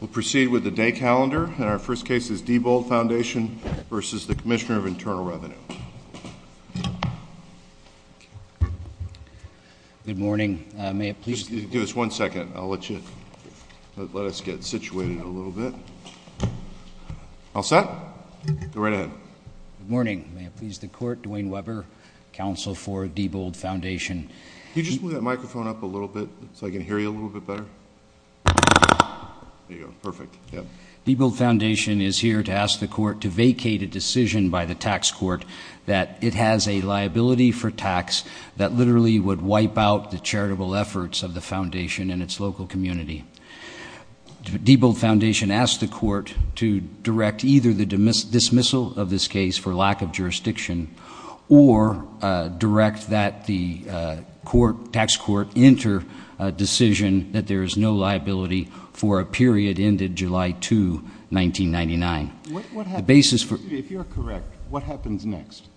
We'll proceed with the day calendar. And our first case is Debold Foundation v. the Commissioner of Internal Revenue. Good morning. May it please the Court. Give us one second. I'll let you let us get situated a little bit. All set? Go right ahead. Good morning. May it please the Court. Dwayne Weber, Counsel for Debold Foundation. Can you just move that microphone up a little bit so I can hear you a little bit better? There you go. Perfect. Yeah. Debold Foundation is here to ask the Court to vacate a decision by the tax court that it has a liability for tax that literally would wipe out the charitable efforts of the foundation and its local community. Debold Foundation asks the Court to direct either the dismissal of this case for lack of jurisdiction or direct that the tax court enter a decision that there is no liability for a period ended July 2, 1999. Excuse me. If you're correct, what happens next?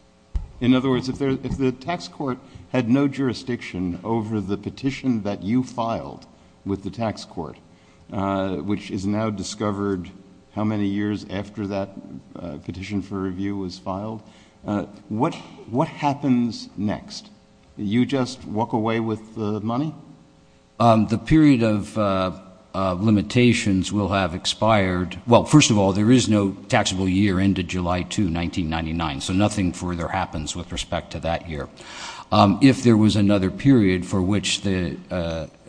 In other words, if the tax court had no jurisdiction over the petition that you filed with the What happens next? You just walk away with the money? The period of limitations will have expired. Well, first of all, there is no taxable year ended July 2, 1999, so nothing further happens with respect to that year. If there was another period for which the –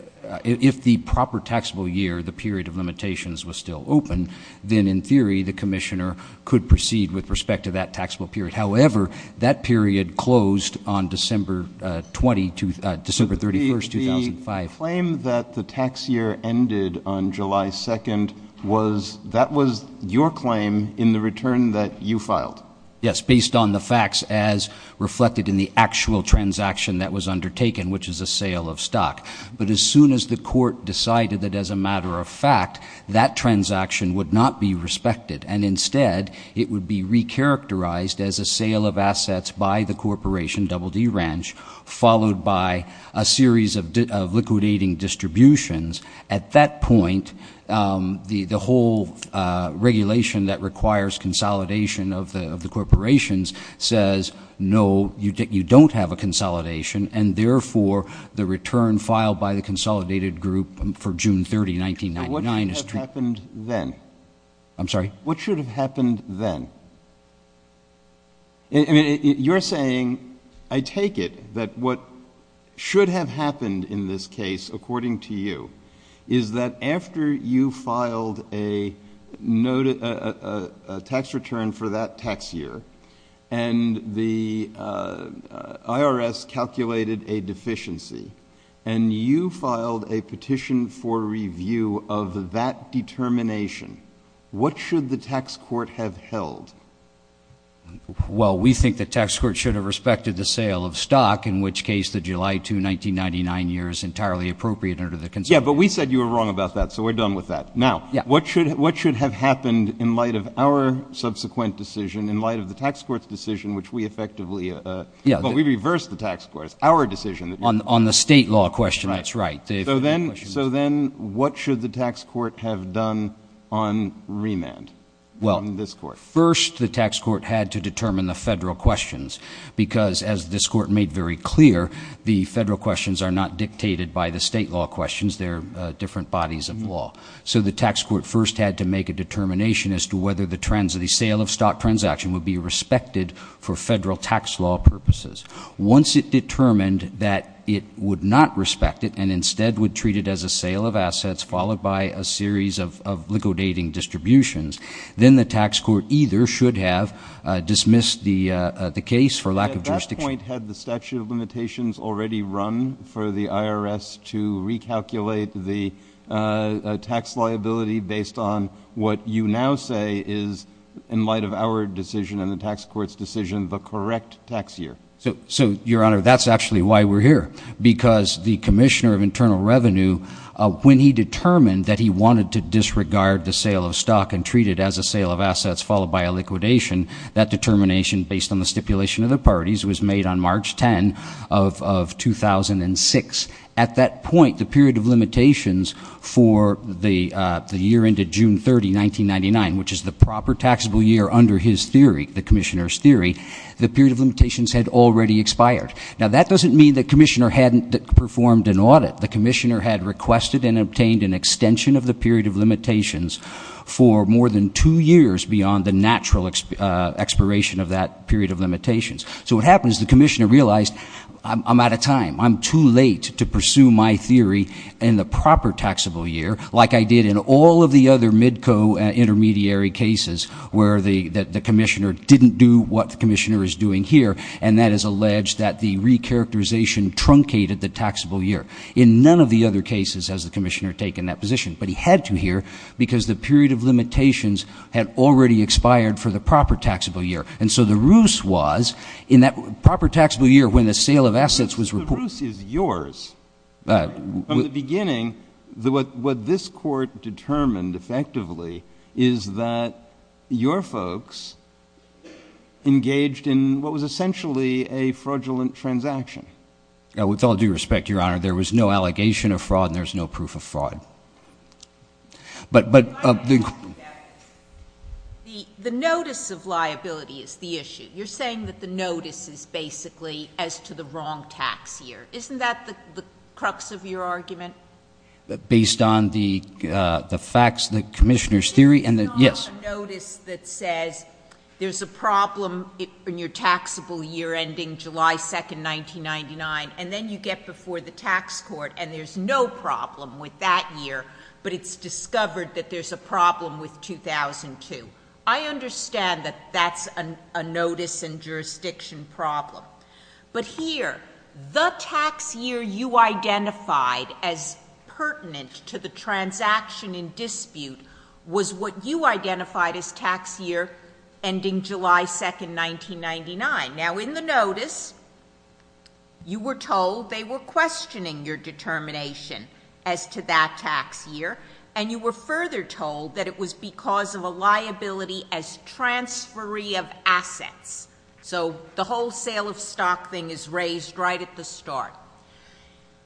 if the proper taxable year, the period of limitations, was still open, then, in theory, the commissioner could proceed with respect to that taxable period. However, that period closed on December 31, 2005. The claim that the tax year ended on July 2 was – that was your claim in the return that you filed? Yes, based on the facts as reflected in the actual transaction that was undertaken, which is a sale of stock. But as soon as the court decided that, as a matter of fact, that transaction would not be respected and, instead, it would be recharacterized as a sale of assets by the corporation, Double D Ranch, followed by a series of liquidating distributions, at that point, the whole regulation that requires consolidation of the corporations says, no, you don't have a consolidation, and, therefore, the return filed by the consolidated group for June 30, 1999 is true. But what should have happened then? I'm sorry? What should have happened then? I mean, you're saying, I take it that what should have happened in this case, according to you, is that after you filed a tax return for that tax year and the IRS calculated a deficiency and you filed a petition for review of that determination, what should the tax court have held? Well, we think the tax court should have respected the sale of stock, in which case the July 2, 1999 year is entirely appropriate under the consolidation. Yeah, but we said you were wrong about that, so we're done with that. Now, what should have happened in light of our subsequent decision, in light of the tax court's decision, which we effectively – well, we reversed the tax court. It's our decision. On the state law question, that's right. So then what should the tax court have done on remand, on this court? First, the tax court had to determine the federal questions because, as this court made very clear, the federal questions are not dictated by the state law questions. They're different bodies of law. So the tax court first had to make a determination as to whether the trends of the sale of stock transaction would be respected for federal tax law purposes. Once it determined that it would not respect it and instead would treat it as a sale of assets followed by a series of liquidating distributions, then the tax court either should have dismissed the case for lack of jurisdiction. At that point, had the statute of limitations already run for the IRS to recalculate the tax liability based on what you now say is, in light of our decision and the tax court's decision, the correct tax year? So, Your Honor, that's actually why we're here because the Commissioner of Internal Revenue, when he determined that he wanted to disregard the sale of stock and treat it as a sale of assets followed by a liquidation, that determination, based on the stipulation of the parties, was made on March 10 of 2006. At that point, the period of limitations for the year ended June 30, 1999, which is the proper taxable year under his theory, the Commissioner's theory, the period of limitations had already expired. Now, that doesn't mean the Commissioner hadn't performed an audit. The Commissioner had requested and obtained an extension of the period of limitations for more than two years beyond the natural expiration of that period of limitations. So what happened is the Commissioner realized, I'm out of time. I'm too late to pursue my theory in the proper taxable year, like I did in all of the other MIDCO intermediary cases where the Commissioner didn't do what the Commissioner is doing here, and that is alleged that the recharacterization truncated the taxable year. In none of the other cases has the Commissioner taken that position, but he had to here because the period of limitations had already expired for the proper taxable year. And so the ruse was in that proper taxable year when the sale of assets was reported. The ruse is yours. From the beginning, what this court determined effectively is that your folks engaged in what was essentially a fraudulent transaction. With all due respect, Your Honor, there was no allegation of fraud, and there's no proof of fraud. But the – The notice of liability is the issue. You're saying that the notice is basically as to the wrong tax year. Isn't that the crux of your argument? Based on the facts, the Commissioner's theory, and the – yes. There's a notice that says there's a problem in your taxable year ending July 2, 1999, and then you get before the tax court and there's no problem with that year, but it's discovered that there's a problem with 2002. I understand that that's a notice and jurisdiction problem. But here, the tax year you identified as pertinent to the transaction in dispute was what you identified as tax year ending July 2, 1999. Now, in the notice, you were told they were questioning your determination as to that tax year, and you were further told that it was because of a liability as transferee of assets. So the wholesale of stock thing is raised right at the start.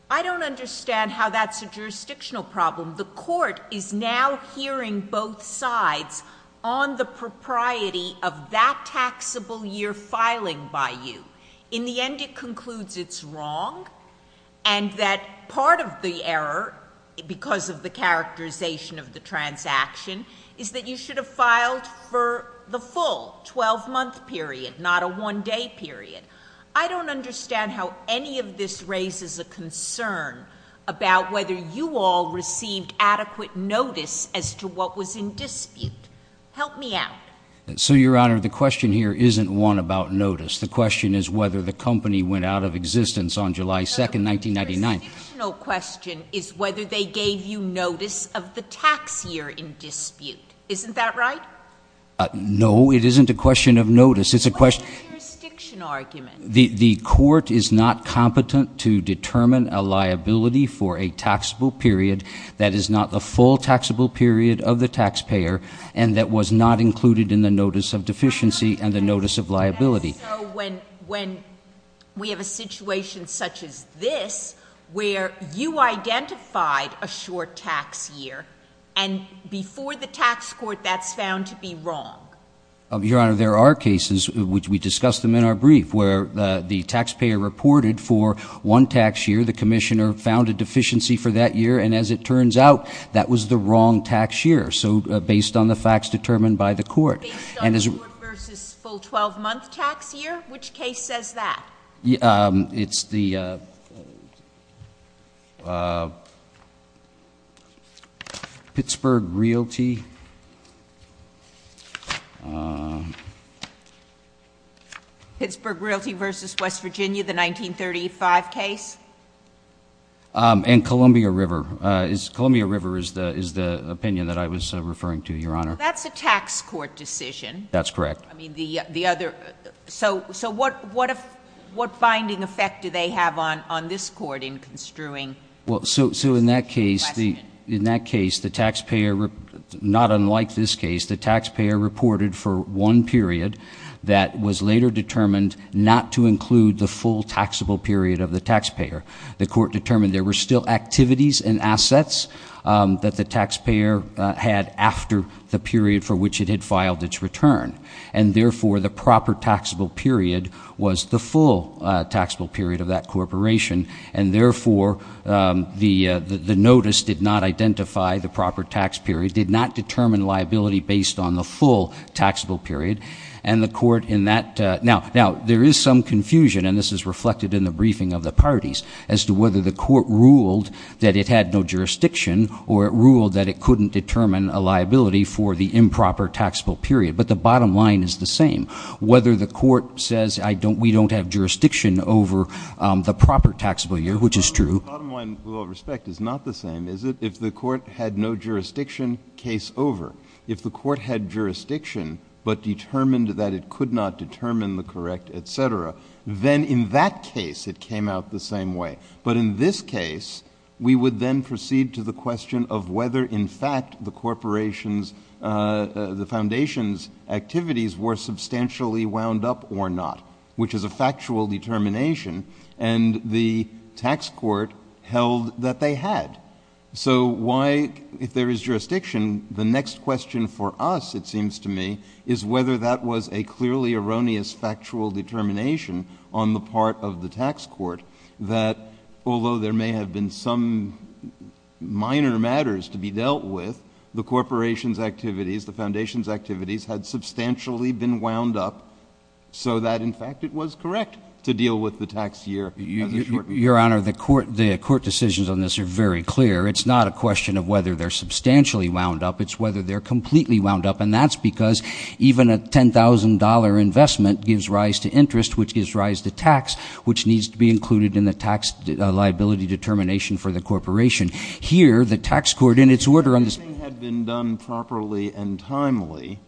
I don't understand how that's a jurisdictional problem. The court is now hearing both sides on the propriety of that taxable year filing by you. In the end, it concludes it's wrong and that part of the error, because of the characterization of the transaction, is that you should have filed for the full 12-month period, not a one-day period. I don't understand how any of this raises a concern about whether you all received adequate notice as to what was in dispute. Help me out. So, Your Honor, the question here isn't one about notice. The question is whether the company went out of existence on July 2, 1999. The jurisdictional question is whether they gave you notice of the tax year in dispute. Isn't that right? No, it isn't a question of notice. It's a question of – What is the jurisdiction argument? The court is not competent to determine a liability for a taxable period that is not the full taxable period of the taxpayer and that was not included in the notice of deficiency and the notice of liability. So, when we have a situation such as this, where you identified a short tax year, and before the tax court that's found to be wrong? Your Honor, there are cases, which we discussed them in our brief, where the taxpayer reported for one tax year, the commissioner found a deficiency for that year, and as it turns out, that was the wrong tax year, so based on the facts determined by the court. Based on the court versus full 12-month tax year? Which case says that? It's the Pittsburgh Realty. Pittsburgh Realty versus West Virginia, the 1935 case? And Columbia River. Columbia River is the opinion that I was referring to, Your Honor. That's a tax court decision. That's correct. I mean, the other – so, what binding effect do they have on this court in construing? Well, so, in that case, the taxpayer – not unlike this case, the taxpayer reported for one period that was later determined not to include the full taxable period of the taxpayer. The court determined there were still activities and assets that the taxpayer had after the period for which it had filed its return, and, therefore, the proper taxable period was the full taxable period of that corporation, and, therefore, the notice did not identify the proper tax period, did not determine liability based on the full taxable period, and the court in that – now, there is some confusion, and this is reflected in the briefing of the parties, as to whether the court ruled that it had no jurisdiction or it ruled that it couldn't determine a liability for the improper taxable period. But the bottom line is the same. Whether the court says we don't have jurisdiction over the proper taxable year, which is true. The bottom line, with all respect, is not the same, is it? If the court had no jurisdiction, case over. If the court had jurisdiction but determined that it could not determine the correct, et cetera, then in that case it came out the same way. But in this case, we would then proceed to the question of whether, in fact, the corporation's – the foundation's activities were substantially wound up or not, which is a factual determination, and the tax court held that they had. So why – if there is jurisdiction, the next question for us, it seems to me, is whether that was a clearly erroneous factual determination on the part of the tax court that although there may have been some minor matters to be dealt with, the corporation's activities, the foundation's activities had substantially been wound up so that, in fact, it was correct to deal with the tax year. Your Honor, the court decisions on this are very clear. It's not a question of whether they're substantially wound up. It's whether they're completely wound up, and that's because even a $10,000 investment gives rise to interest, which gives rise to tax, which needs to be included in the tax liability determination for the corporation. Here, the tax court, in its order on this – If everything had been done properly and timely,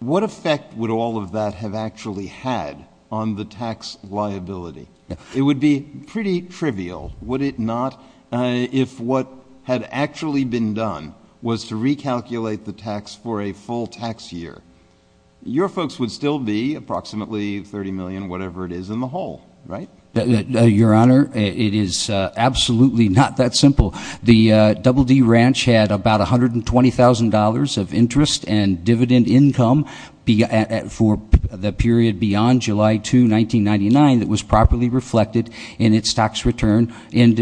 what effect would all of that have actually had on the tax liability? It would be pretty trivial, would it not? If what had actually been done was to recalculate the tax for a full tax year, your folks would still be approximately $30 million, whatever it is, in the hole, right? Your Honor, it is absolutely not that simple. The Double D Ranch had about $120,000 of interest and dividend income for the period beyond July 2, 1999, that was properly reflected in its tax return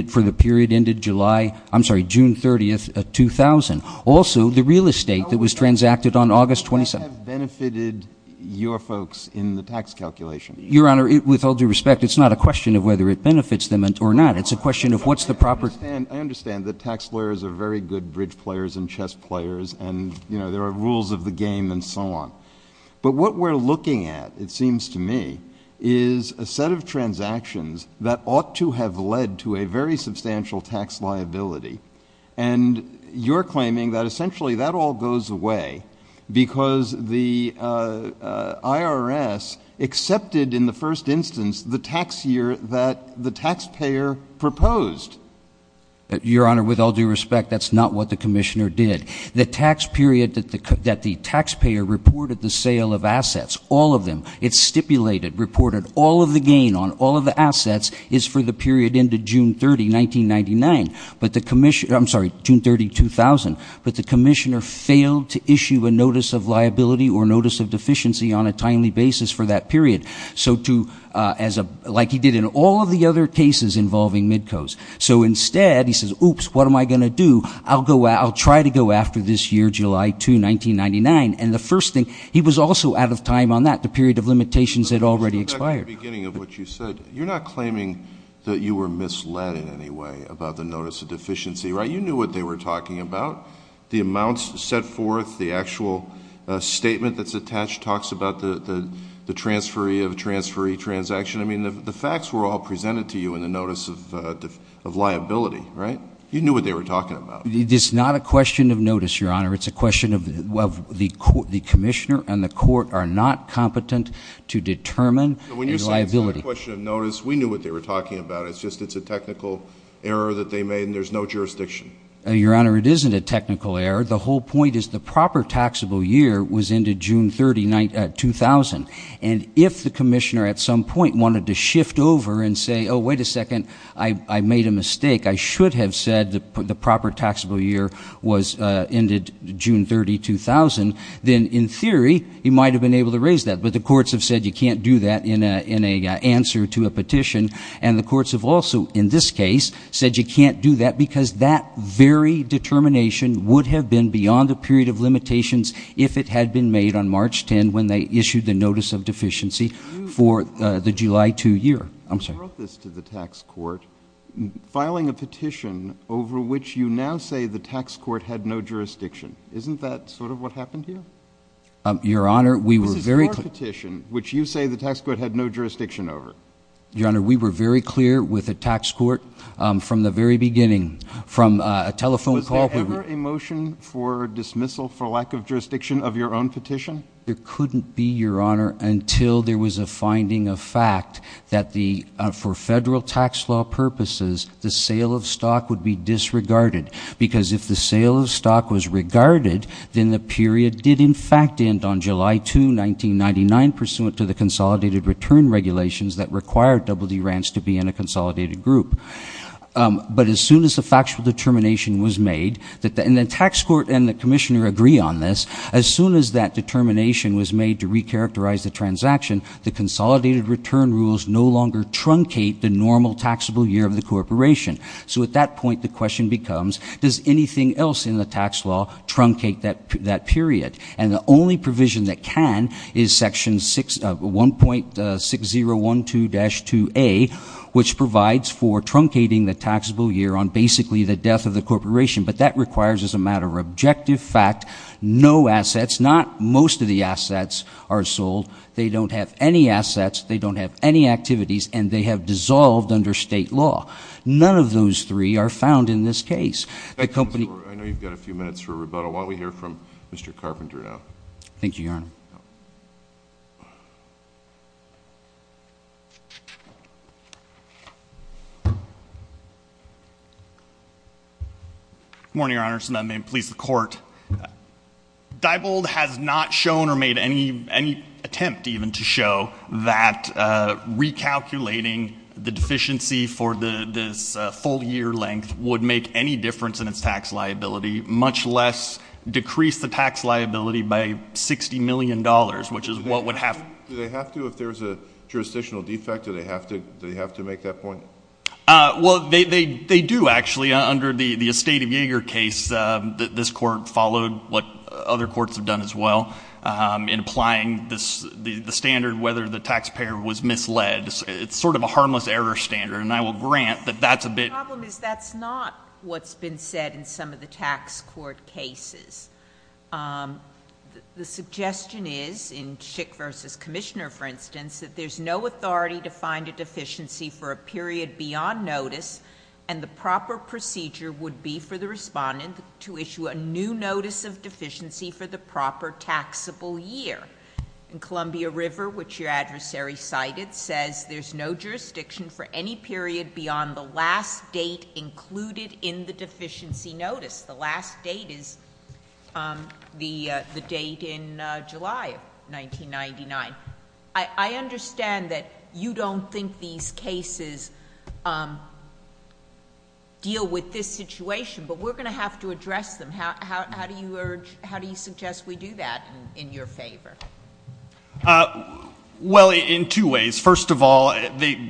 for the period ended July – I'm sorry, June 30, 2000. Also, the real estate that was transacted on August 27th – How would that have benefited your folks in the tax calculation? Your Honor, with all due respect, it's not a question of whether it benefits them or not. It's a question of what's the proper – I understand that tax lawyers are very good bridge players and chess players, and, you know, there are rules of the game and so on. But what we're looking at, it seems to me, is a set of transactions that ought to have led to a very substantial tax liability. And you're claiming that essentially that all goes away because the IRS accepted in the first instance the tax year that the taxpayer proposed. Your Honor, with all due respect, that's not what the commissioner did. The tax period that the taxpayer reported the sale of assets, all of them, it stipulated, reported all of the gain on all of the assets is for the period ended June 30, 1999. I'm sorry, June 30, 2000. But the commissioner failed to issue a notice of liability or notice of deficiency on a timely basis for that period, like he did in all of the other cases involving mid-cos. So instead, he says, oops, what am I going to do? I'll try to go after this year, July 2, 1999. And the first thing, he was also out of time on that, the period of limitations had already expired. Let's go back to the beginning of what you said. You're not claiming that you were misled in any way about the notice of deficiency, right? You knew what they were talking about. The amounts set forth, the actual statement that's attached talks about the transferee of a transferee transaction. I mean, the facts were all presented to you in the notice of liability, right? You knew what they were talking about. It's not a question of notice, Your Honor. It's a question of the commissioner and the court are not competent to determine the liability. It's not a question of notice. We knew what they were talking about. It's just it's a technical error that they made and there's no jurisdiction. Your Honor, it isn't a technical error. The whole point is the proper taxable year was ended June 30, 2000. And if the commissioner at some point wanted to shift over and say, oh, wait a second, I made a mistake. I should have said the proper taxable year was ended June 30, 2000. Then, in theory, he might have been able to raise that. But the courts have said you can't do that in an answer to a petition and the courts have also, in this case, said you can't do that because that very determination would have been beyond the period of limitations if it had been made on March 10 when they issued the notice of deficiency for the July 2 year. I'm sorry. You brought this to the tax court, filing a petition over which you now say the tax court had no jurisdiction. Isn't that sort of what happened here? Your Honor, we were very clear. We filed a petition which you say the tax court had no jurisdiction over. Your Honor, we were very clear with the tax court from the very beginning, from a telephone call. Was there ever a motion for dismissal for lack of jurisdiction of your own petition? There couldn't be, Your Honor, until there was a finding of fact that for federal tax law purposes, the sale of stock would be disregarded because if the sale of stock was regarded, then the period did in fact end on July 2, 1999, pursuant to the consolidated return regulations that required Double D Ranch to be in a consolidated group. But as soon as the factual determination was made, and the tax court and the commissioner agree on this, as soon as that determination was made to recharacterize the transaction, the consolidated return rules no longer truncate the normal taxable year of the corporation. So at that point, the question becomes, does anything else in the tax law truncate that period? And the only provision that can is Section 1.6012-2A, which provides for truncating the taxable year on basically the death of the corporation. But that requires, as a matter of objective fact, no assets, not most of the assets are sold. They don't have any assets. They don't have any activities. And they have dissolved under state law. None of those three are found in this case. I know you've got a few minutes for rebuttal. Why don't we hear from Mr. Carpenter now? Thank you, Your Honor. Good morning, Your Honor, and may it please the Court. Diebold has not shown or made any attempt even to show that recalculating the deficiency for this full year length would make any difference in its tax liability, much less decrease the tax liability by $60 million, which is what would happen. Do they have to if there's a jurisdictional defect? Do they have to make that point? Well, they do, actually. Under the Estate of Yeager case, this Court followed what other courts have done as well in applying the standard whether the taxpayer was misled. It's sort of a harmless error standard, and I will grant that that's a bit— The problem is that's not what's been said in some of the tax court cases. The suggestion is, in Schick v. Commissioner, for instance, that there's no authority to find a deficiency for a period beyond notice, and the proper procedure would be for the respondent to issue a new notice of deficiency for the proper taxable year. In Columbia River, which your adversary cited, says there's no jurisdiction for any period beyond the last date included in the deficiency notice. The last date is the date in July of 1999. I understand that you don't think these cases deal with this situation, but we're going to have to address them. How do you suggest we do that in your favor? Well, in two ways. First of all,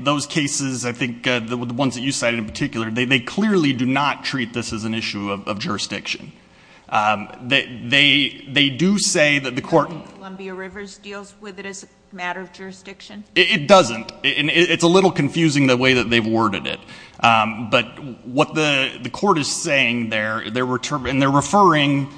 those cases, I think the ones that you cited in particular, they clearly do not treat this as an issue of jurisdiction. They do say that the Court— It doesn't. It's a little confusing the way that they've worded it. But what the Court is saying there, and they're referring,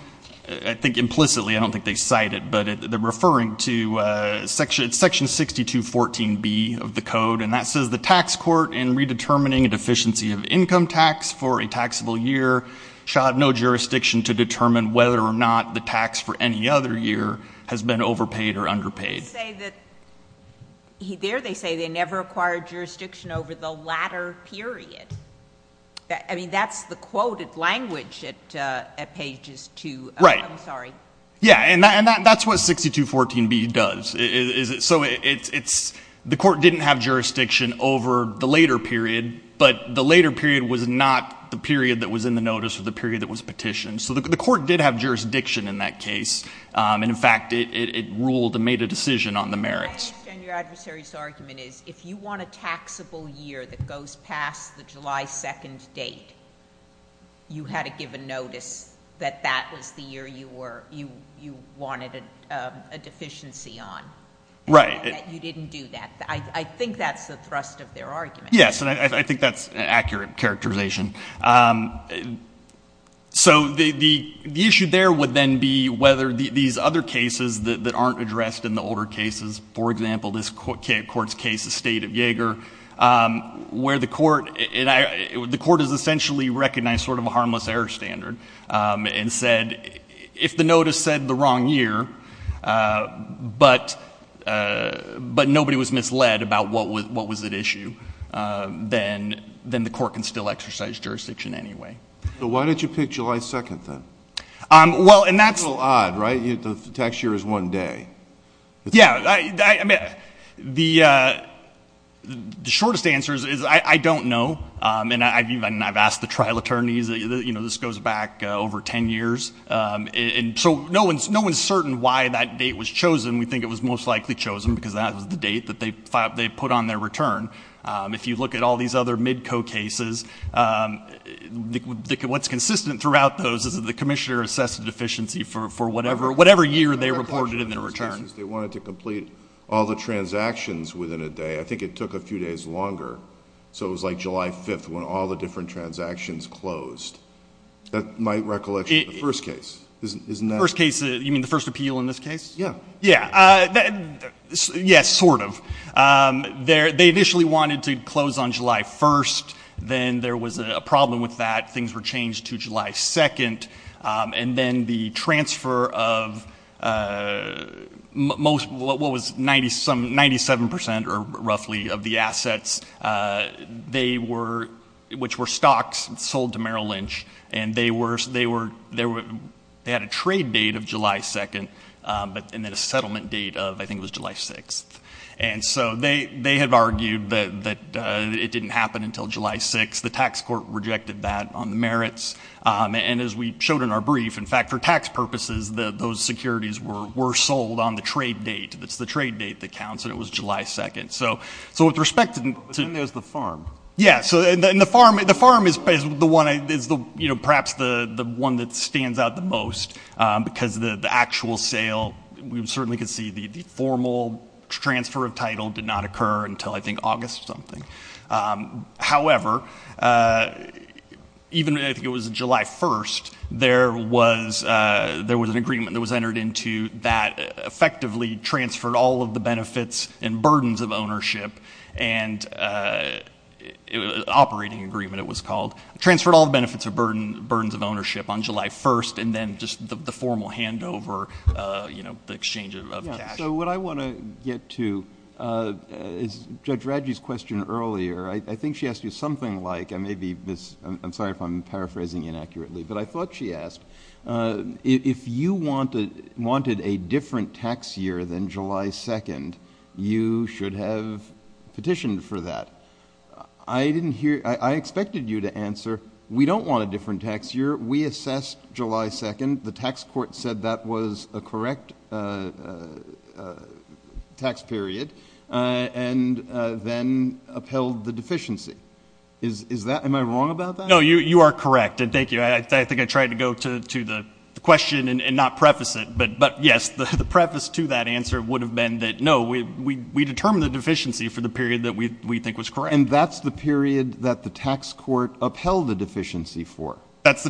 I think implicitly, I don't think they cite it, but they're referring to Section 6214B of the Code, and that says the tax court, in redetermining a deficiency of income tax for a taxable year, shall have no jurisdiction to determine whether or not the tax for any other year has been overpaid or underpaid. They say that—there they say they never acquired jurisdiction over the latter period. I mean, that's the quoted language at pages 2. Right. I'm sorry. Yeah, and that's what 6214B does. So it's—the Court didn't have jurisdiction over the later period, but the later period was not the period that was in the notice or the period that was petitioned. So the Court did have jurisdiction in that case, and, in fact, it ruled and made a decision on the merits. My question on your adversary's argument is if you want a taxable year that goes past the July 2nd date, you had to give a notice that that was the year you were—you wanted a deficiency on. Right. You didn't do that. I think that's the thrust of their argument. Yes, and I think that's an accurate characterization. So the issue there would then be whether these other cases that aren't addressed in the older cases— for example, this Court's case, the State of Yeager, where the Court— and the Court has essentially recognized sort of a harmless error standard and said, if the notice said the wrong year, but nobody was misled about what was at issue, then the Court can still exercise jurisdiction anyway. So why didn't you pick July 2nd, then? Well, and that's— It's a little odd, right? The tax year is one day. Yes. I mean, the shortest answer is I don't know, and I've asked the trial attorneys. You know, this goes back over 10 years. And so no one's certain why that date was chosen. We think it was most likely chosen because that was the date that they put on their return. If you look at all these other MIDCO cases, what's consistent throughout those is that the commissioner assessed a deficiency for whatever year they reported in their return. They wanted to complete all the transactions within a day. I think it took a few days longer. So it was like July 5th when all the different transactions closed. That's my recollection of the first case. Isn't that— First case, you mean the first appeal in this case? Yeah. Yeah. Yes, sort of. They initially wanted to close on July 1st. Then there was a problem with that. Things were changed to July 2nd. And then the transfer of most—what was some 97% or roughly of the assets, which were stocks, sold to Merrill Lynch. And they had a trade date of July 2nd and then a settlement date of I think it was July 6th. And so they had argued that it didn't happen until July 6th. And as we showed in our brief, in fact, for tax purposes, those securities were sold on the trade date. It's the trade date that counts, and it was July 2nd. So with respect to— But then there's the farm. Yeah. And the farm is perhaps the one that stands out the most because the actual sale, we certainly could see the formal transfer of title did not occur until I think August or something. However, even if it was July 1st, there was an agreement that was entered into that effectively transferred all of the benefits and burdens of ownership. And it was an operating agreement, it was called. It transferred all the benefits of burdens of ownership on July 1st, and then just the formal handover, the exchange of cash. So what I want to get to is Judge Radji's question earlier. I think she asked you something like—I may be—I'm sorry if I'm paraphrasing inaccurately, but I thought she asked if you wanted a different tax year than July 2nd, you should have petitioned for that. I didn't hear—I expected you to answer, we don't want a different tax year. We assessed July 2nd. The tax court said that was a correct tax period and then upheld the deficiency. Is that—am I wrong about that? No, you are correct, and thank you. I think I tried to go to the question and not preface it. But, yes, the preface to that answer would have been that, no, we determined the deficiency for the period that we think was correct. And that's the period that the tax court upheld the deficiency for. That's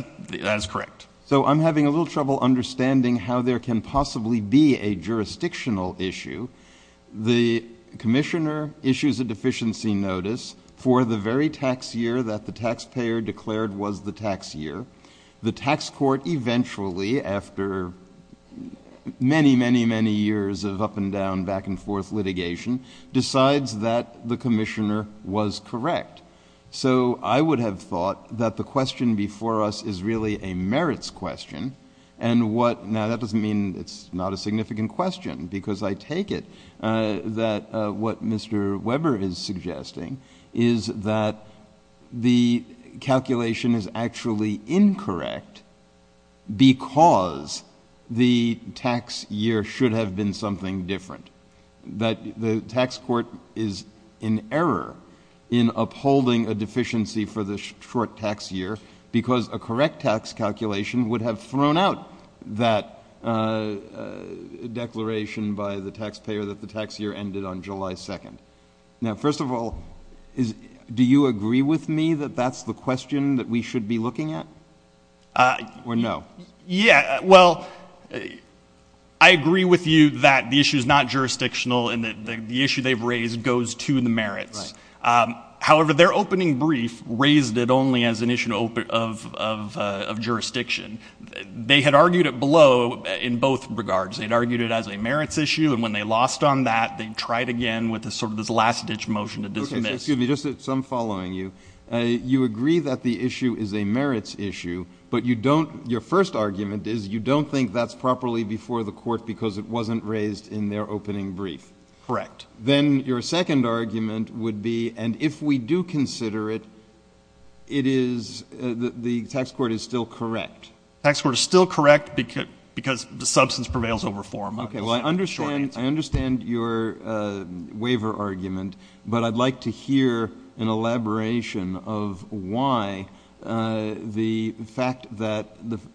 correct. So I'm having a little trouble understanding how there can possibly be a jurisdictional issue. The commissioner issues a deficiency notice for the very tax year that the taxpayer declared was the tax year. The tax court eventually, after many, many, many years of up and down, back and forth litigation, decides that the commissioner was correct. So I would have thought that the question before us is really a merits question, and what—now, that doesn't mean it's not a significant question, because I take it that what Mr. Weber is suggesting is that the calculation is actually incorrect because the tax year should have been something different. That the tax court is in error in upholding a deficiency for the short tax year because a correct tax calculation would have thrown out that declaration by the taxpayer that the tax year ended on July 2nd. Now, first of all, do you agree with me that that's the question that we should be looking at, or no? Yeah, well, I agree with you that the issue is not jurisdictional and that the issue they've raised goes to the merits. However, their opening brief raised it only as an issue of jurisdiction. They had argued it below in both regards. They had argued it as a merits issue, and when they lost on that, they tried again with sort of this last-ditch motion to dismiss. Excuse me, just some following you. You agree that the issue is a merits issue, but you don't — your first argument is you don't think that's properly before the court because it wasn't raised in their opening brief. Correct. Then your second argument would be, and if we do consider it, it is — the tax court is still correct. The tax court is still correct because the substance prevails over form. Okay, well, I understand your waiver argument, but I'd like to hear an elaboration of why the fact that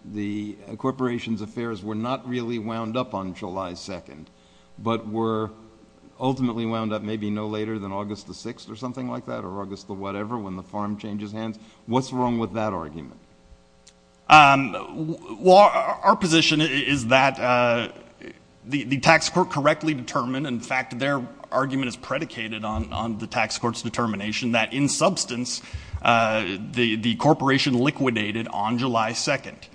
the corporation's affairs were not really wound up on July 2nd, but were ultimately wound up maybe no later than August the 6th or something like that, or August the whatever, when the farm changes hands. What's wrong with that argument? Well, our position is that the tax court correctly determined. In fact, their argument is predicated on the tax court's determination that, in substance, the corporation liquidated on July 2nd.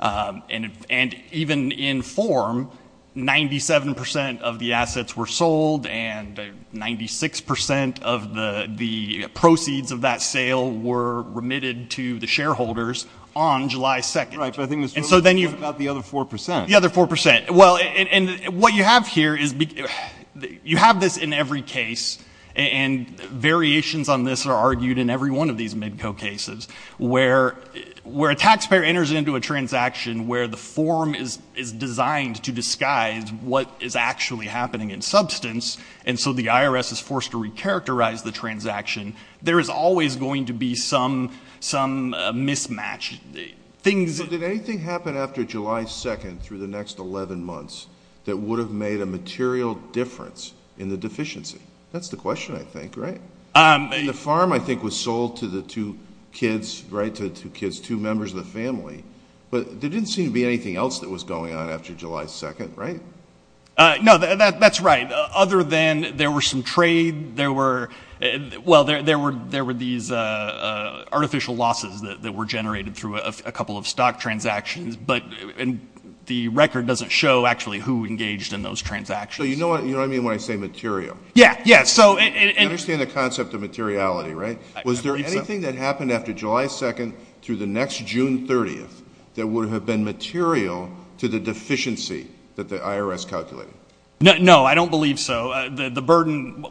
And even in form, 97 percent of the assets were sold, and 96 percent of the proceeds of that sale were remitted to the shareholders on July 2nd. Right, but I think it was really about the other 4 percent. The other 4 percent. Well, and what you have here is — you have this in every case, and variations on this are argued in every one of these MIDCO cases, where a taxpayer enters into a transaction where the form is designed to disguise what is actually happening in substance, and so the IRS is forced to recharacterize the transaction, there is always going to be some mismatch. So did anything happen after July 2nd through the next 11 months that would have made a material difference in the deficiency? That's the question, I think, right? The farm, I think, was sold to the two kids, right, to the two kids, two members of the family, but there didn't seem to be anything else that was going on after July 2nd, right? No, that's right. Other than there was some trade, there were — well, there were these artificial losses that were generated through a couple of stock transactions, but the record doesn't show actually who engaged in those transactions. So you know what I mean when I say material? Yeah, yeah, so — You understand the concept of materiality, right? I believe so. Did anything that happened after July 2nd through the next June 30th that would have been material to the deficiency that the IRS calculated? No, I don't believe so. The burden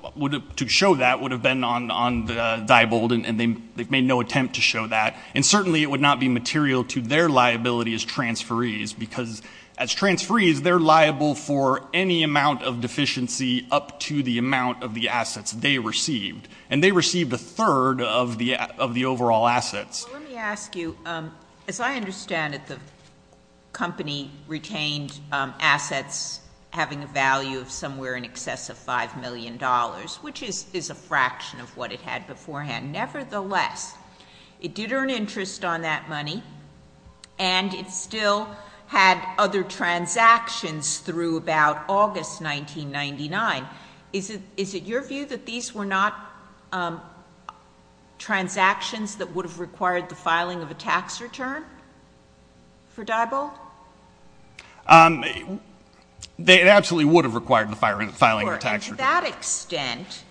to show that would have been on Diebold, and they've made no attempt to show that, and certainly it would not be material to their liability as transferees, because as transferees, they're liable for any amount of deficiency up to the amount of the assets they received, and they received a third of the overall assets. Well, let me ask you, as I understand it, the company retained assets having a value of somewhere in excess of $5 million, which is a fraction of what it had beforehand. Nevertheless, it did earn interest on that money, and it still had other transactions through about August 1999. Is it your view that these were not transactions that would have required the filing of a tax return for Diebold? It absolutely would have required the filing of a tax return. And to that extent,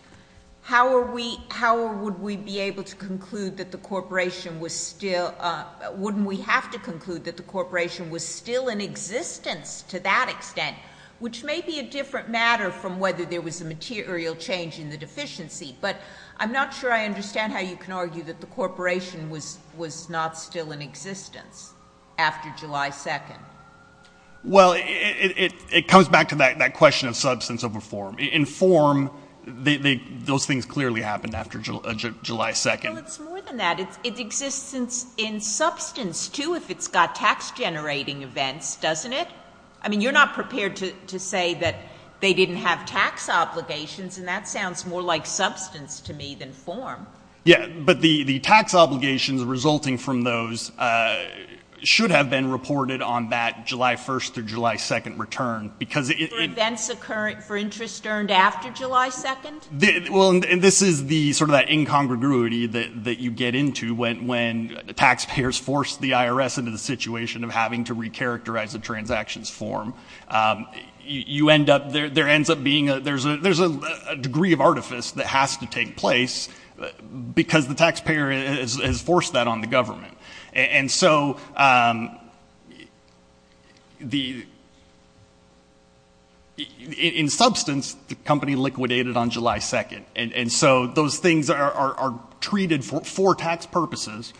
how would we be able to conclude that the corporation was still — wouldn't we have to conclude that the corporation was still in existence to that extent, which may be a different matter from whether there was a material change in the deficiency, but I'm not sure I understand how you can argue that the corporation was not still in existence after July 2nd. Well, it comes back to that question of substance over form. In form, those things clearly happened after July 2nd. Well, it's more than that. It exists in substance, too, if it's got tax-generating events, doesn't it? I mean, you're not prepared to say that they didn't have tax obligations, and that sounds more like substance to me than form. Yeah, but the tax obligations resulting from those should have been reported on that July 1st or July 2nd return because — For events occurring — for interest earned after July 2nd? Well, and this is the — sort of that incongruity that you get into when taxpayers force the IRS into the situation of having to recharacterize a transaction's form. You end up — there ends up being a — there's a degree of artifice that has to take place because the taxpayer has forced that on the government. And so the — in substance, the company liquidated on July 2nd, and so those things are treated for tax purposes,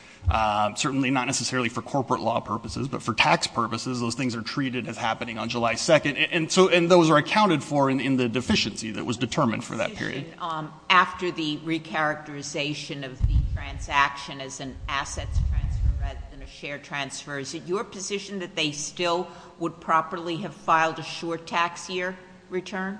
certainly not necessarily for corporate law purposes, but for tax purposes, those things are treated as happening on July 2nd. And so — and those are accounted for in the deficiency that was determined for that period. After the recharacterization of the transaction as an assets transfer rather than a share transfer, is it your position that they still would properly have filed a short tax year return?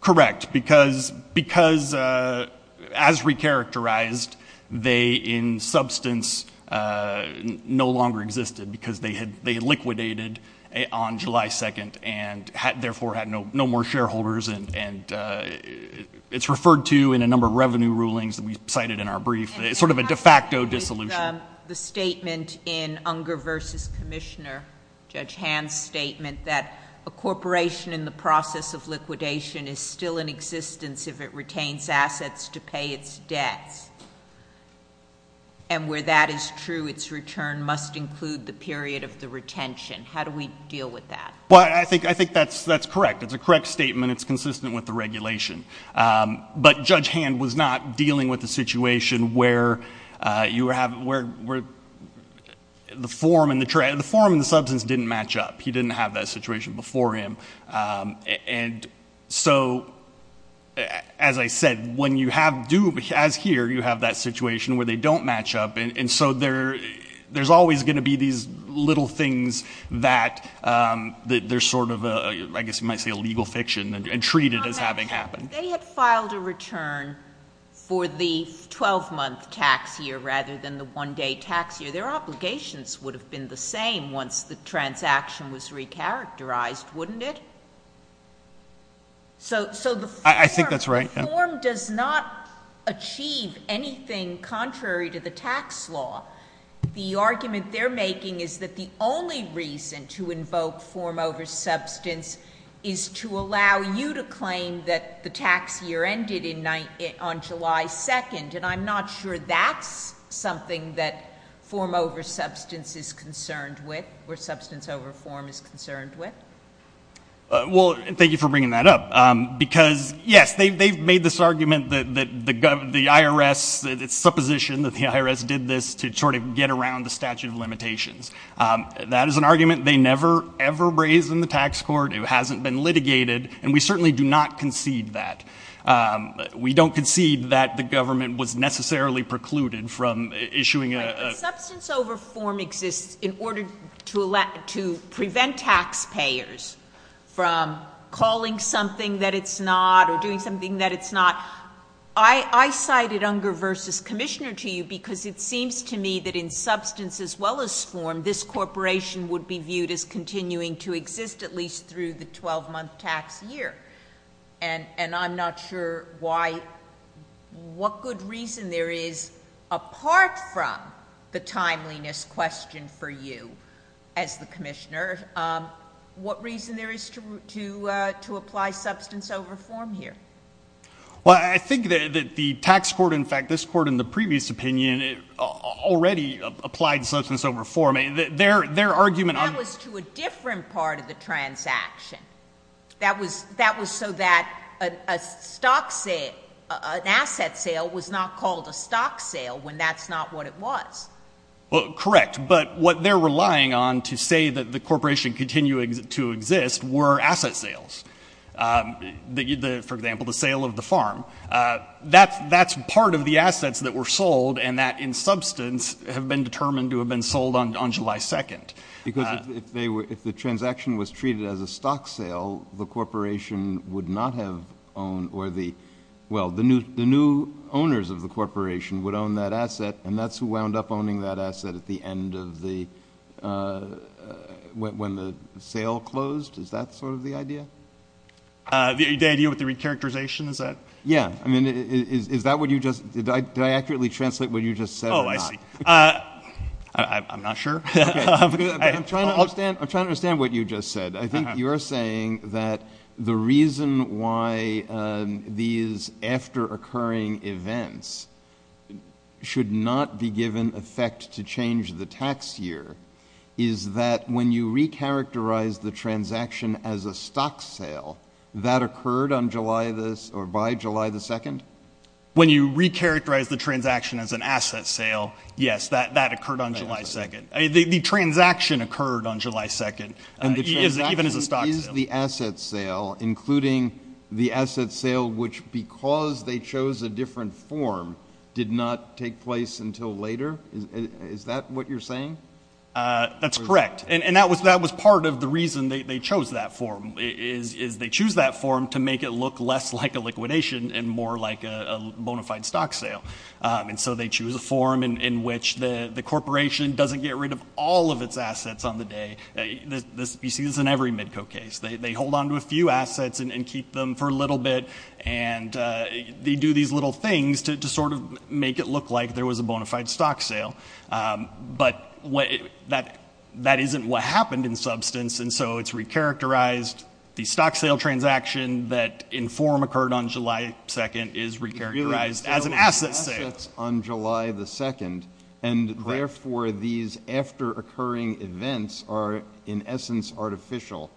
Correct, because as recharacterized, they in substance no longer existed because they had liquidated on July 2nd and therefore had no more shareholders. And it's referred to in a number of revenue rulings that we cited in our brief. It's sort of a de facto dissolution. The statement in Unger v. Commissioner, Judge Hand's statement, that a corporation in the process of liquidation is still in existence if it retains assets to pay its debts, and where that is true, its return must include the period of the retention. How do we deal with that? Well, I think that's correct. It's a correct statement. It's consistent with the regulation. But Judge Hand was not dealing with a situation where you have — where the form and the substance didn't match up. He didn't have that situation before him. And so, as I said, when you have — as here, you have that situation where they don't match up. And so there's always going to be these little things that they're sort of a — I guess you might say a legal fiction and treat it as having happened. If they had filed a return for the 12-month tax year rather than the one-day tax year, their obligations would have been the same once the transaction was recharacterized, wouldn't it? So the form — I think that's right. The form does not achieve anything contrary to the tax law. The argument they're making is that the only reason to invoke form over substance is to allow you to claim that the tax year ended on July 2nd. And I'm not sure that's something that form over substance is concerned with or substance over form is concerned with. Well, thank you for bringing that up. Because, yes, they've made this argument that the IRS — it's supposition that the IRS did this to sort of get around the statute of limitations. That is an argument they never, ever raised in the tax court. It hasn't been litigated. And we certainly do not concede that. We don't concede that the government was necessarily precluded from issuing a — Substance over form exists in order to prevent taxpayers from calling something that it's not or doing something that it's not. I cited Unger v. Commissioner to you because it seems to me that in substance as well as form, this corporation would be viewed as continuing to exist at least through the 12-month tax year. And I'm not sure why — what good reason there is apart from the timeliness question for you as the commissioner. What reason there is to apply substance over form here? Well, I think that the tax court — in fact, this court in the previous opinion already applied substance over form. Their argument on — That was to a different part of the transaction. That was so that a stock sale — an asset sale was not called a stock sale when that's not what it was. Well, correct. But what they're relying on to say that the corporation continued to exist were asset sales. For example, the sale of the farm. That's part of the assets that were sold and that in substance have been determined to have been sold on July 2nd. Because if the transaction was treated as a stock sale, the corporation would not have owned or the — well, the new owners of the corporation would own that asset, and that's who wound up owning that asset at the end of the — when the sale closed. Is that sort of the idea? The idea with the recharacterization, is that — Yeah. I mean, is that what you just — did I accurately translate what you just said or not? Oh, I see. I'm not sure. I'm trying to understand what you just said. I think you're saying that the reason why these after-occurring events should not be given effect to change the tax year is that when you recharacterize the transaction as a stock sale, that occurred on July — or by July 2nd? When you recharacterize the transaction as an asset sale, yes, that occurred on July 2nd. The transaction occurred on July 2nd, even as a stock sale. And the transaction is the asset sale, including the asset sale which, because they chose a different form, did not take place until later? Is that what you're saying? That's correct. And that was part of the reason they chose that form, is they choose that form to make it look less like a liquidation and more like a bona fide stock sale. And so they choose a form in which the corporation doesn't get rid of all of its assets on the day. You see this in every Midco case. They hold on to a few assets and keep them for a little bit, and they do these little things to sort of make it look like there was a bona fide stock sale. But that isn't what happened in substance. And so it's recharacterized. The stock sale transaction that in form occurred on July 2nd is recharacterized as an asset sale. It's on July 2nd, and therefore these after-occurring events are, in essence, artificial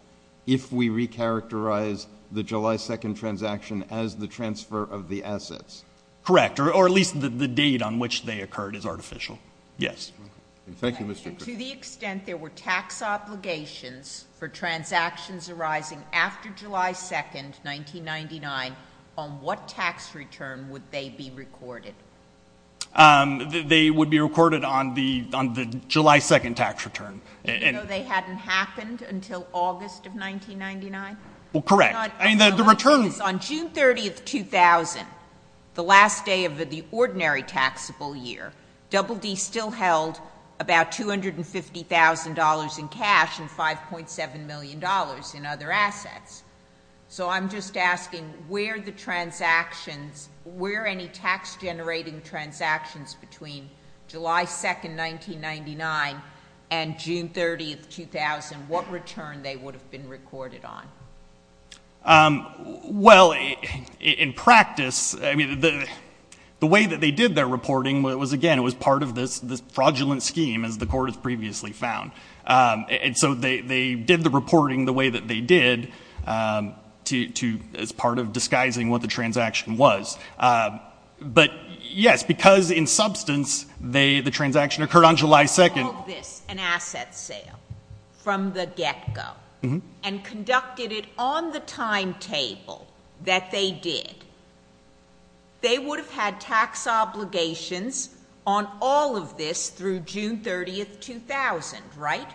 if we recharacterize the July 2nd transaction as the transfer of the assets. Correct, or at least the date on which they occurred is artificial, yes. Thank you, Mr. Crick. To the extent there were tax obligations for transactions arising after July 2nd, 1999, on what tax return would they be recorded? They would be recorded on the July 2nd tax return. So they hadn't happened until August of 1999? Well, correct. On June 30th, 2000, the last day of the ordinary taxable year, Double D still held about $250,000 in cash and $5.7 million in other assets. So I'm just asking where the transactions, where any tax-generating transactions between July 2nd, 1999, and June 30th, 2000, what return they would have been recorded on? Well, in practice, the way that they did their reporting was, again, it was part of this fraudulent scheme, as the Court has previously found. And so they did the reporting the way that they did as part of disguising what the transaction was. But, yes, because in substance, the transaction occurred on July 2nd. If they had held this, an asset sale, from the get-go, and conducted it on the timetable that they did, they would have had tax obligations on all of this through June 30th, 2000, right?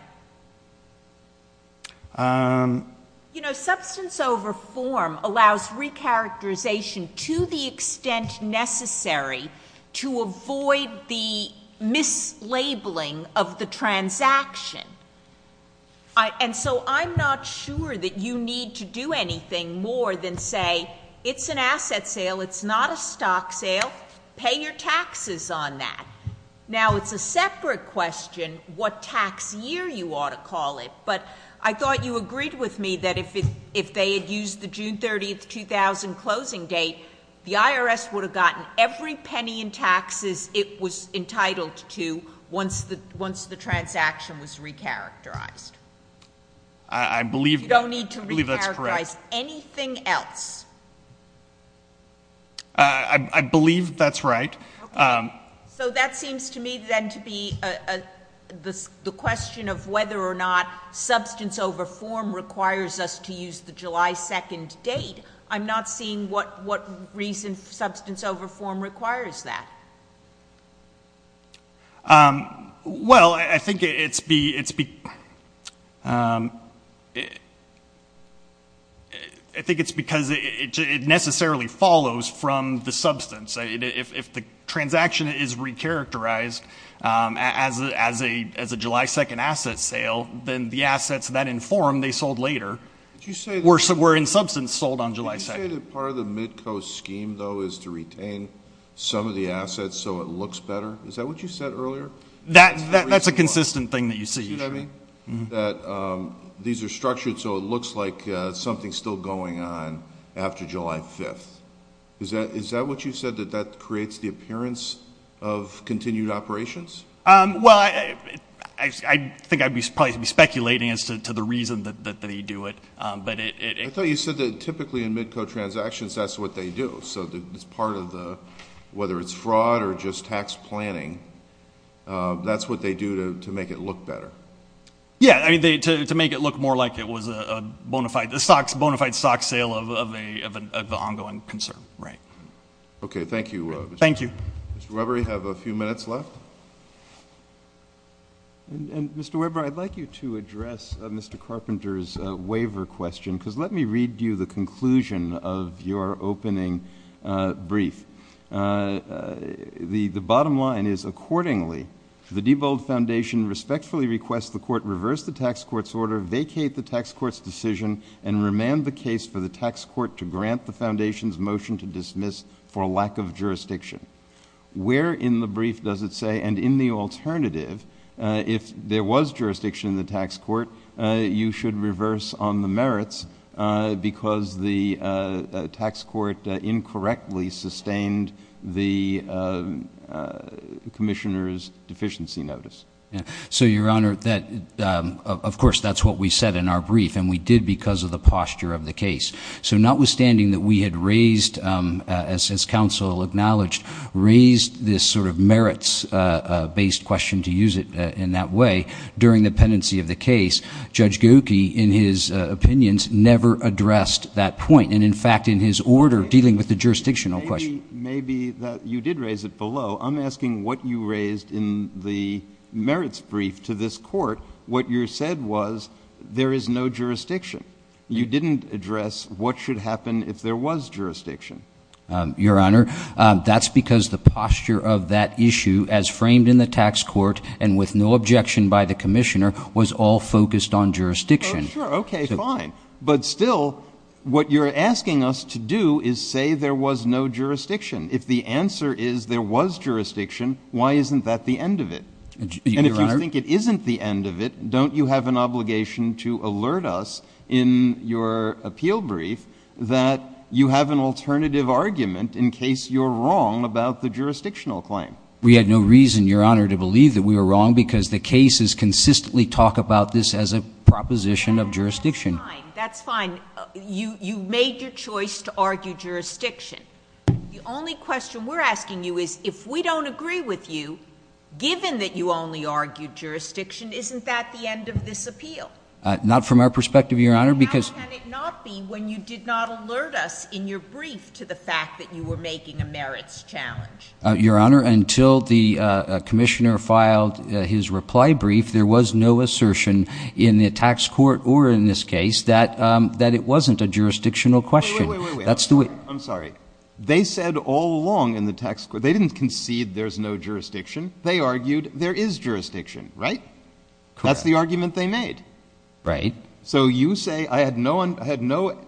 You know, substance over form allows recharacterization to the extent necessary to avoid the mislabeling of the transaction. And so I'm not sure that you need to do anything more than say, it's an asset sale, it's not a stock sale, pay your taxes on that. Now, it's a separate question what tax year you ought to call it, but I thought you agreed with me that if they had used the June 30th, 2000 closing date, the IRS would have gotten every penny in taxes it was entitled to once the transaction was recharacterized. I believe that's correct. You don't need to recharacterize anything else. I believe that's right. So that seems to me then to be the question of whether or not substance over form requires us to use the July 2nd date. I'm not seeing what reason substance over form requires that. Well, I think it's because it necessarily follows from the substance. If the transaction is recharacterized as a July 2nd asset sale, then the assets that inform, they sold later, were in substance sold on July 2nd. Did you say that part of the Midco scheme, though, is to retain some of the assets so it looks better? Is that what you said earlier? That's a consistent thing that you see. That these are structured so it looks like something's still going on after July 5th. Is that what you said, that that creates the appearance of continued operations? Well, I think I'd probably be speculating as to the reason that they do it. I thought you said that typically in Midco transactions that's what they do. So it's part of the, whether it's fraud or just tax planning, that's what they do to make it look better. Yeah, to make it look more like it was a bona fide stock sale of an ongoing concern. Okay, thank you. Thank you. Mr. Weber, you have a few minutes left. Mr. Weber, I'd like you to address Mr. Carpenter's waiver question, because let me read you the conclusion of your opening brief. The bottom line is, accordingly, the Diebold Foundation respectfully requests the court reverse the tax court's order, vacate the tax court's decision, and remand the case for the tax court to grant the foundation's motion to dismiss for lack of jurisdiction. Where in the brief does it say, and in the alternative, if there was jurisdiction in the tax court, you should reverse on the merits because the tax court incorrectly sustained the commissioner's deficiency notice? So, Your Honor, of course, that's what we said in our brief, and we did because of the posture of the case. So notwithstanding that we had raised, as counsel acknowledged, raised this sort of merits-based question to use it in that way, during the pendency of the case, Judge Geucki, in his opinions, never addressed that point. And, in fact, in his order dealing with the jurisdictional question. Maybe you did raise it below. I'm asking what you raised in the merits brief to this court. What you said was there is no jurisdiction. You didn't address what should happen if there was jurisdiction. Your Honor, that's because the posture of that issue, as framed in the tax court and with no objection by the commissioner, was all focused on jurisdiction. Oh, sure. Okay, fine. But still, what you're asking us to do is say there was no jurisdiction. If the answer is there was jurisdiction, why isn't that the end of it? And if you think it isn't the end of it, don't you have an obligation to alert us in your appeal brief that you have an alternative argument in case you're wrong about the jurisdictional claim? We had no reason, Your Honor, to believe that we were wrong because the cases consistently talk about this as a proposition of jurisdiction. That's fine. That's fine. You made your choice to argue jurisdiction. The only question we're asking you is if we don't agree with you, given that you only argued jurisdiction, isn't that the end of this appeal? Not from our perspective, Your Honor. How can it not be when you did not alert us in your brief to the fact that you were making a merits challenge? Your Honor, until the commissioner filed his reply brief, there was no assertion in the tax court or in this case that it wasn't a jurisdictional question. Wait, wait, wait. I'm sorry. They said all along in the tax court they didn't concede there's no jurisdiction. They argued there is jurisdiction, right? Correct. That's the argument they made. Right. So you say I had no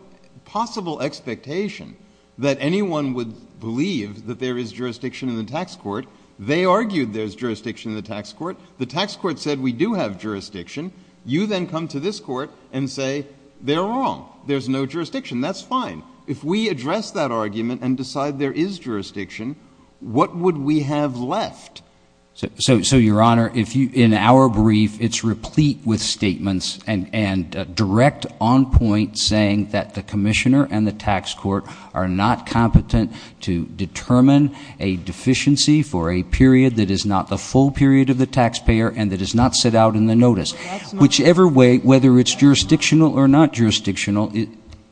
possible expectation that anyone would believe that there is jurisdiction in the tax court. They argued there's jurisdiction in the tax court. The tax court said we do have jurisdiction. You then come to this court and say they're wrong. There's no jurisdiction. That's fine. If we address that argument and decide there is jurisdiction, what would we have left? So, Your Honor, in our brief it's replete with statements and direct on point saying that the commissioner and the tax court are not competent to determine a deficiency for a period that is not the full period of the taxpayer and that is not set out in the notice. Whichever way, whether it's jurisdictional or not jurisdictional.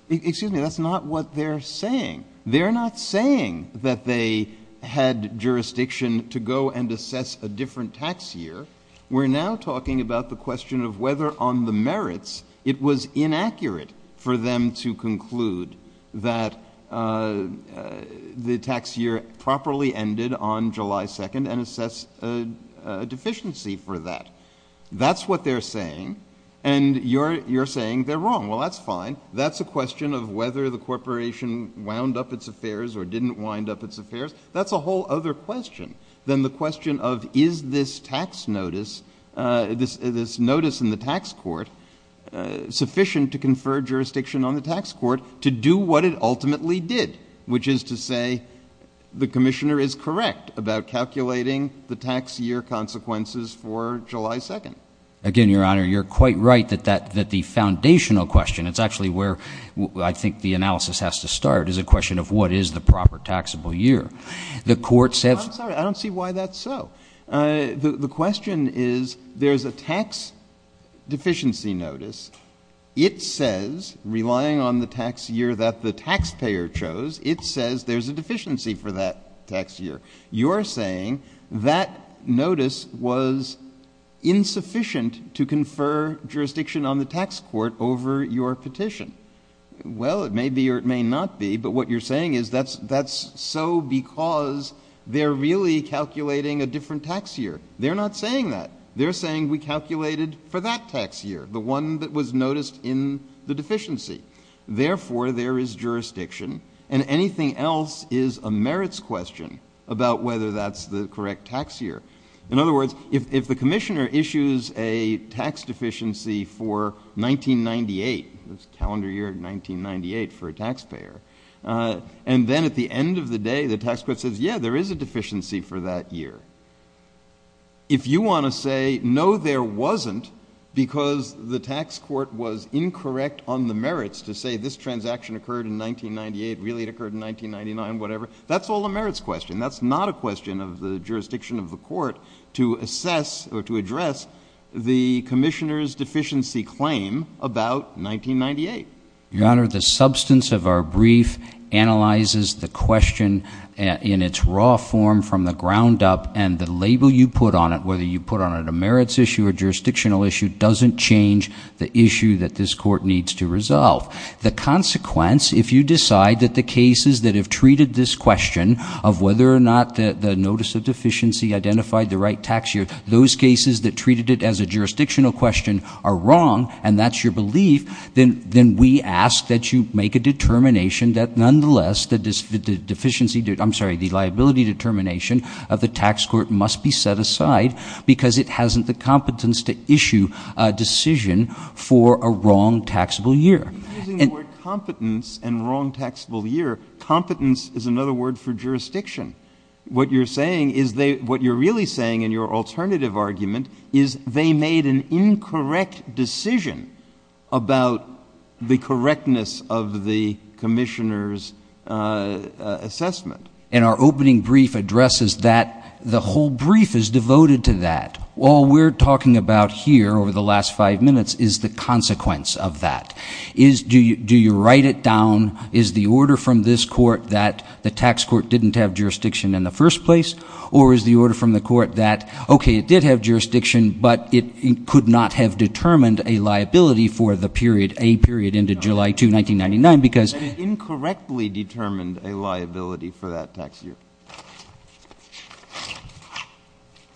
Excuse me. That's not what they're saying. They're not saying that they had jurisdiction to go and assess a different tax year. We're now talking about the question of whether on the merits it was inaccurate for them to conclude that the tax year properly ended on July 2nd and assess a deficiency for that. That's what they're saying. And you're saying they're wrong. Well, that's fine. That's a question of whether the corporation wound up its affairs or didn't wind up its affairs. That's a whole other question than the question of is this tax notice, this notice in the tax court, sufficient to confer jurisdiction on the tax court to do what it ultimately did, which is to say the commissioner is correct about calculating the tax year consequences for July 2nd. Again, Your Honor, you're quite right that the foundational question, it's actually where I think the analysis has to start, is a question of what is the proper taxable year. I'm sorry. I don't see why that's so. The question is there's a tax deficiency notice. It says, relying on the tax year that the taxpayer chose, it says there's a deficiency for that tax year. You're saying that notice was insufficient to confer jurisdiction on the tax court over your petition. Well, it may be or it may not be, but what you're saying is that's so because they're really calculating a different tax year. They're not saying that. They're saying we calculated for that tax year, the one that was noticed in the deficiency. Therefore, there is jurisdiction, and anything else is a merits question about whether that's the correct tax year. In other words, if the commissioner issues a tax deficiency for 1998, calendar year 1998 for a taxpayer, and then at the end of the day the tax court says, yeah, there is a deficiency for that year, if you want to say, no, there wasn't because the tax court was incorrect on the merits to say this transaction occurred in 1998, really it occurred in 1999, whatever, that's all a merits question. That's not a question of the jurisdiction of the court to assess or to address the commissioner's deficiency claim about 1998. Your Honor, the substance of our brief analyzes the question in its raw form from the ground up, and the label you put on it, whether you put on it a merits issue or jurisdictional issue, doesn't change the issue that this court needs to resolve. The consequence, if you decide that the cases that have treated this question of whether or not the notice of deficiency identified the right tax year, those cases that treated it as a jurisdictional question are wrong, and that's your belief, then we ask that you make a determination that nonetheless the liability determination of the tax court must be set aside because it hasn't the competence to issue a decision for a wrong taxable year. I'm using the word competence and wrong taxable year. Competence is another word for jurisdiction. What you're saying is what you're really saying in your alternative argument is they made an incorrect decision about the correctness of the commissioner's assessment. And our opening brief addresses that. The whole brief is devoted to that. All we're talking about here over the last five minutes is the consequence of that. Do you write it down? Is the order from this court that the tax court didn't have jurisdiction in the first place, or is the order from the court that, okay, it did have jurisdiction, but it could not have determined a liability for the period, a period into July 2, 1999, because. It incorrectly determined a liability for that tax year.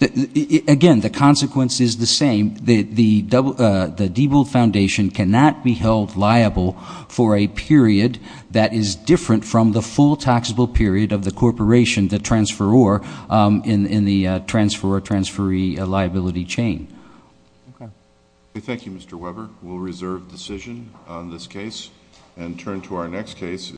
Again, the consequence is the same. The Diebold Foundation cannot be held liable for a period that is different from the full taxable period of the corporation, the transferor in the transferor-transferee liability chain. Okay. Thank you, Mr. Weber. We'll reserve decision on this case and turn to our next case.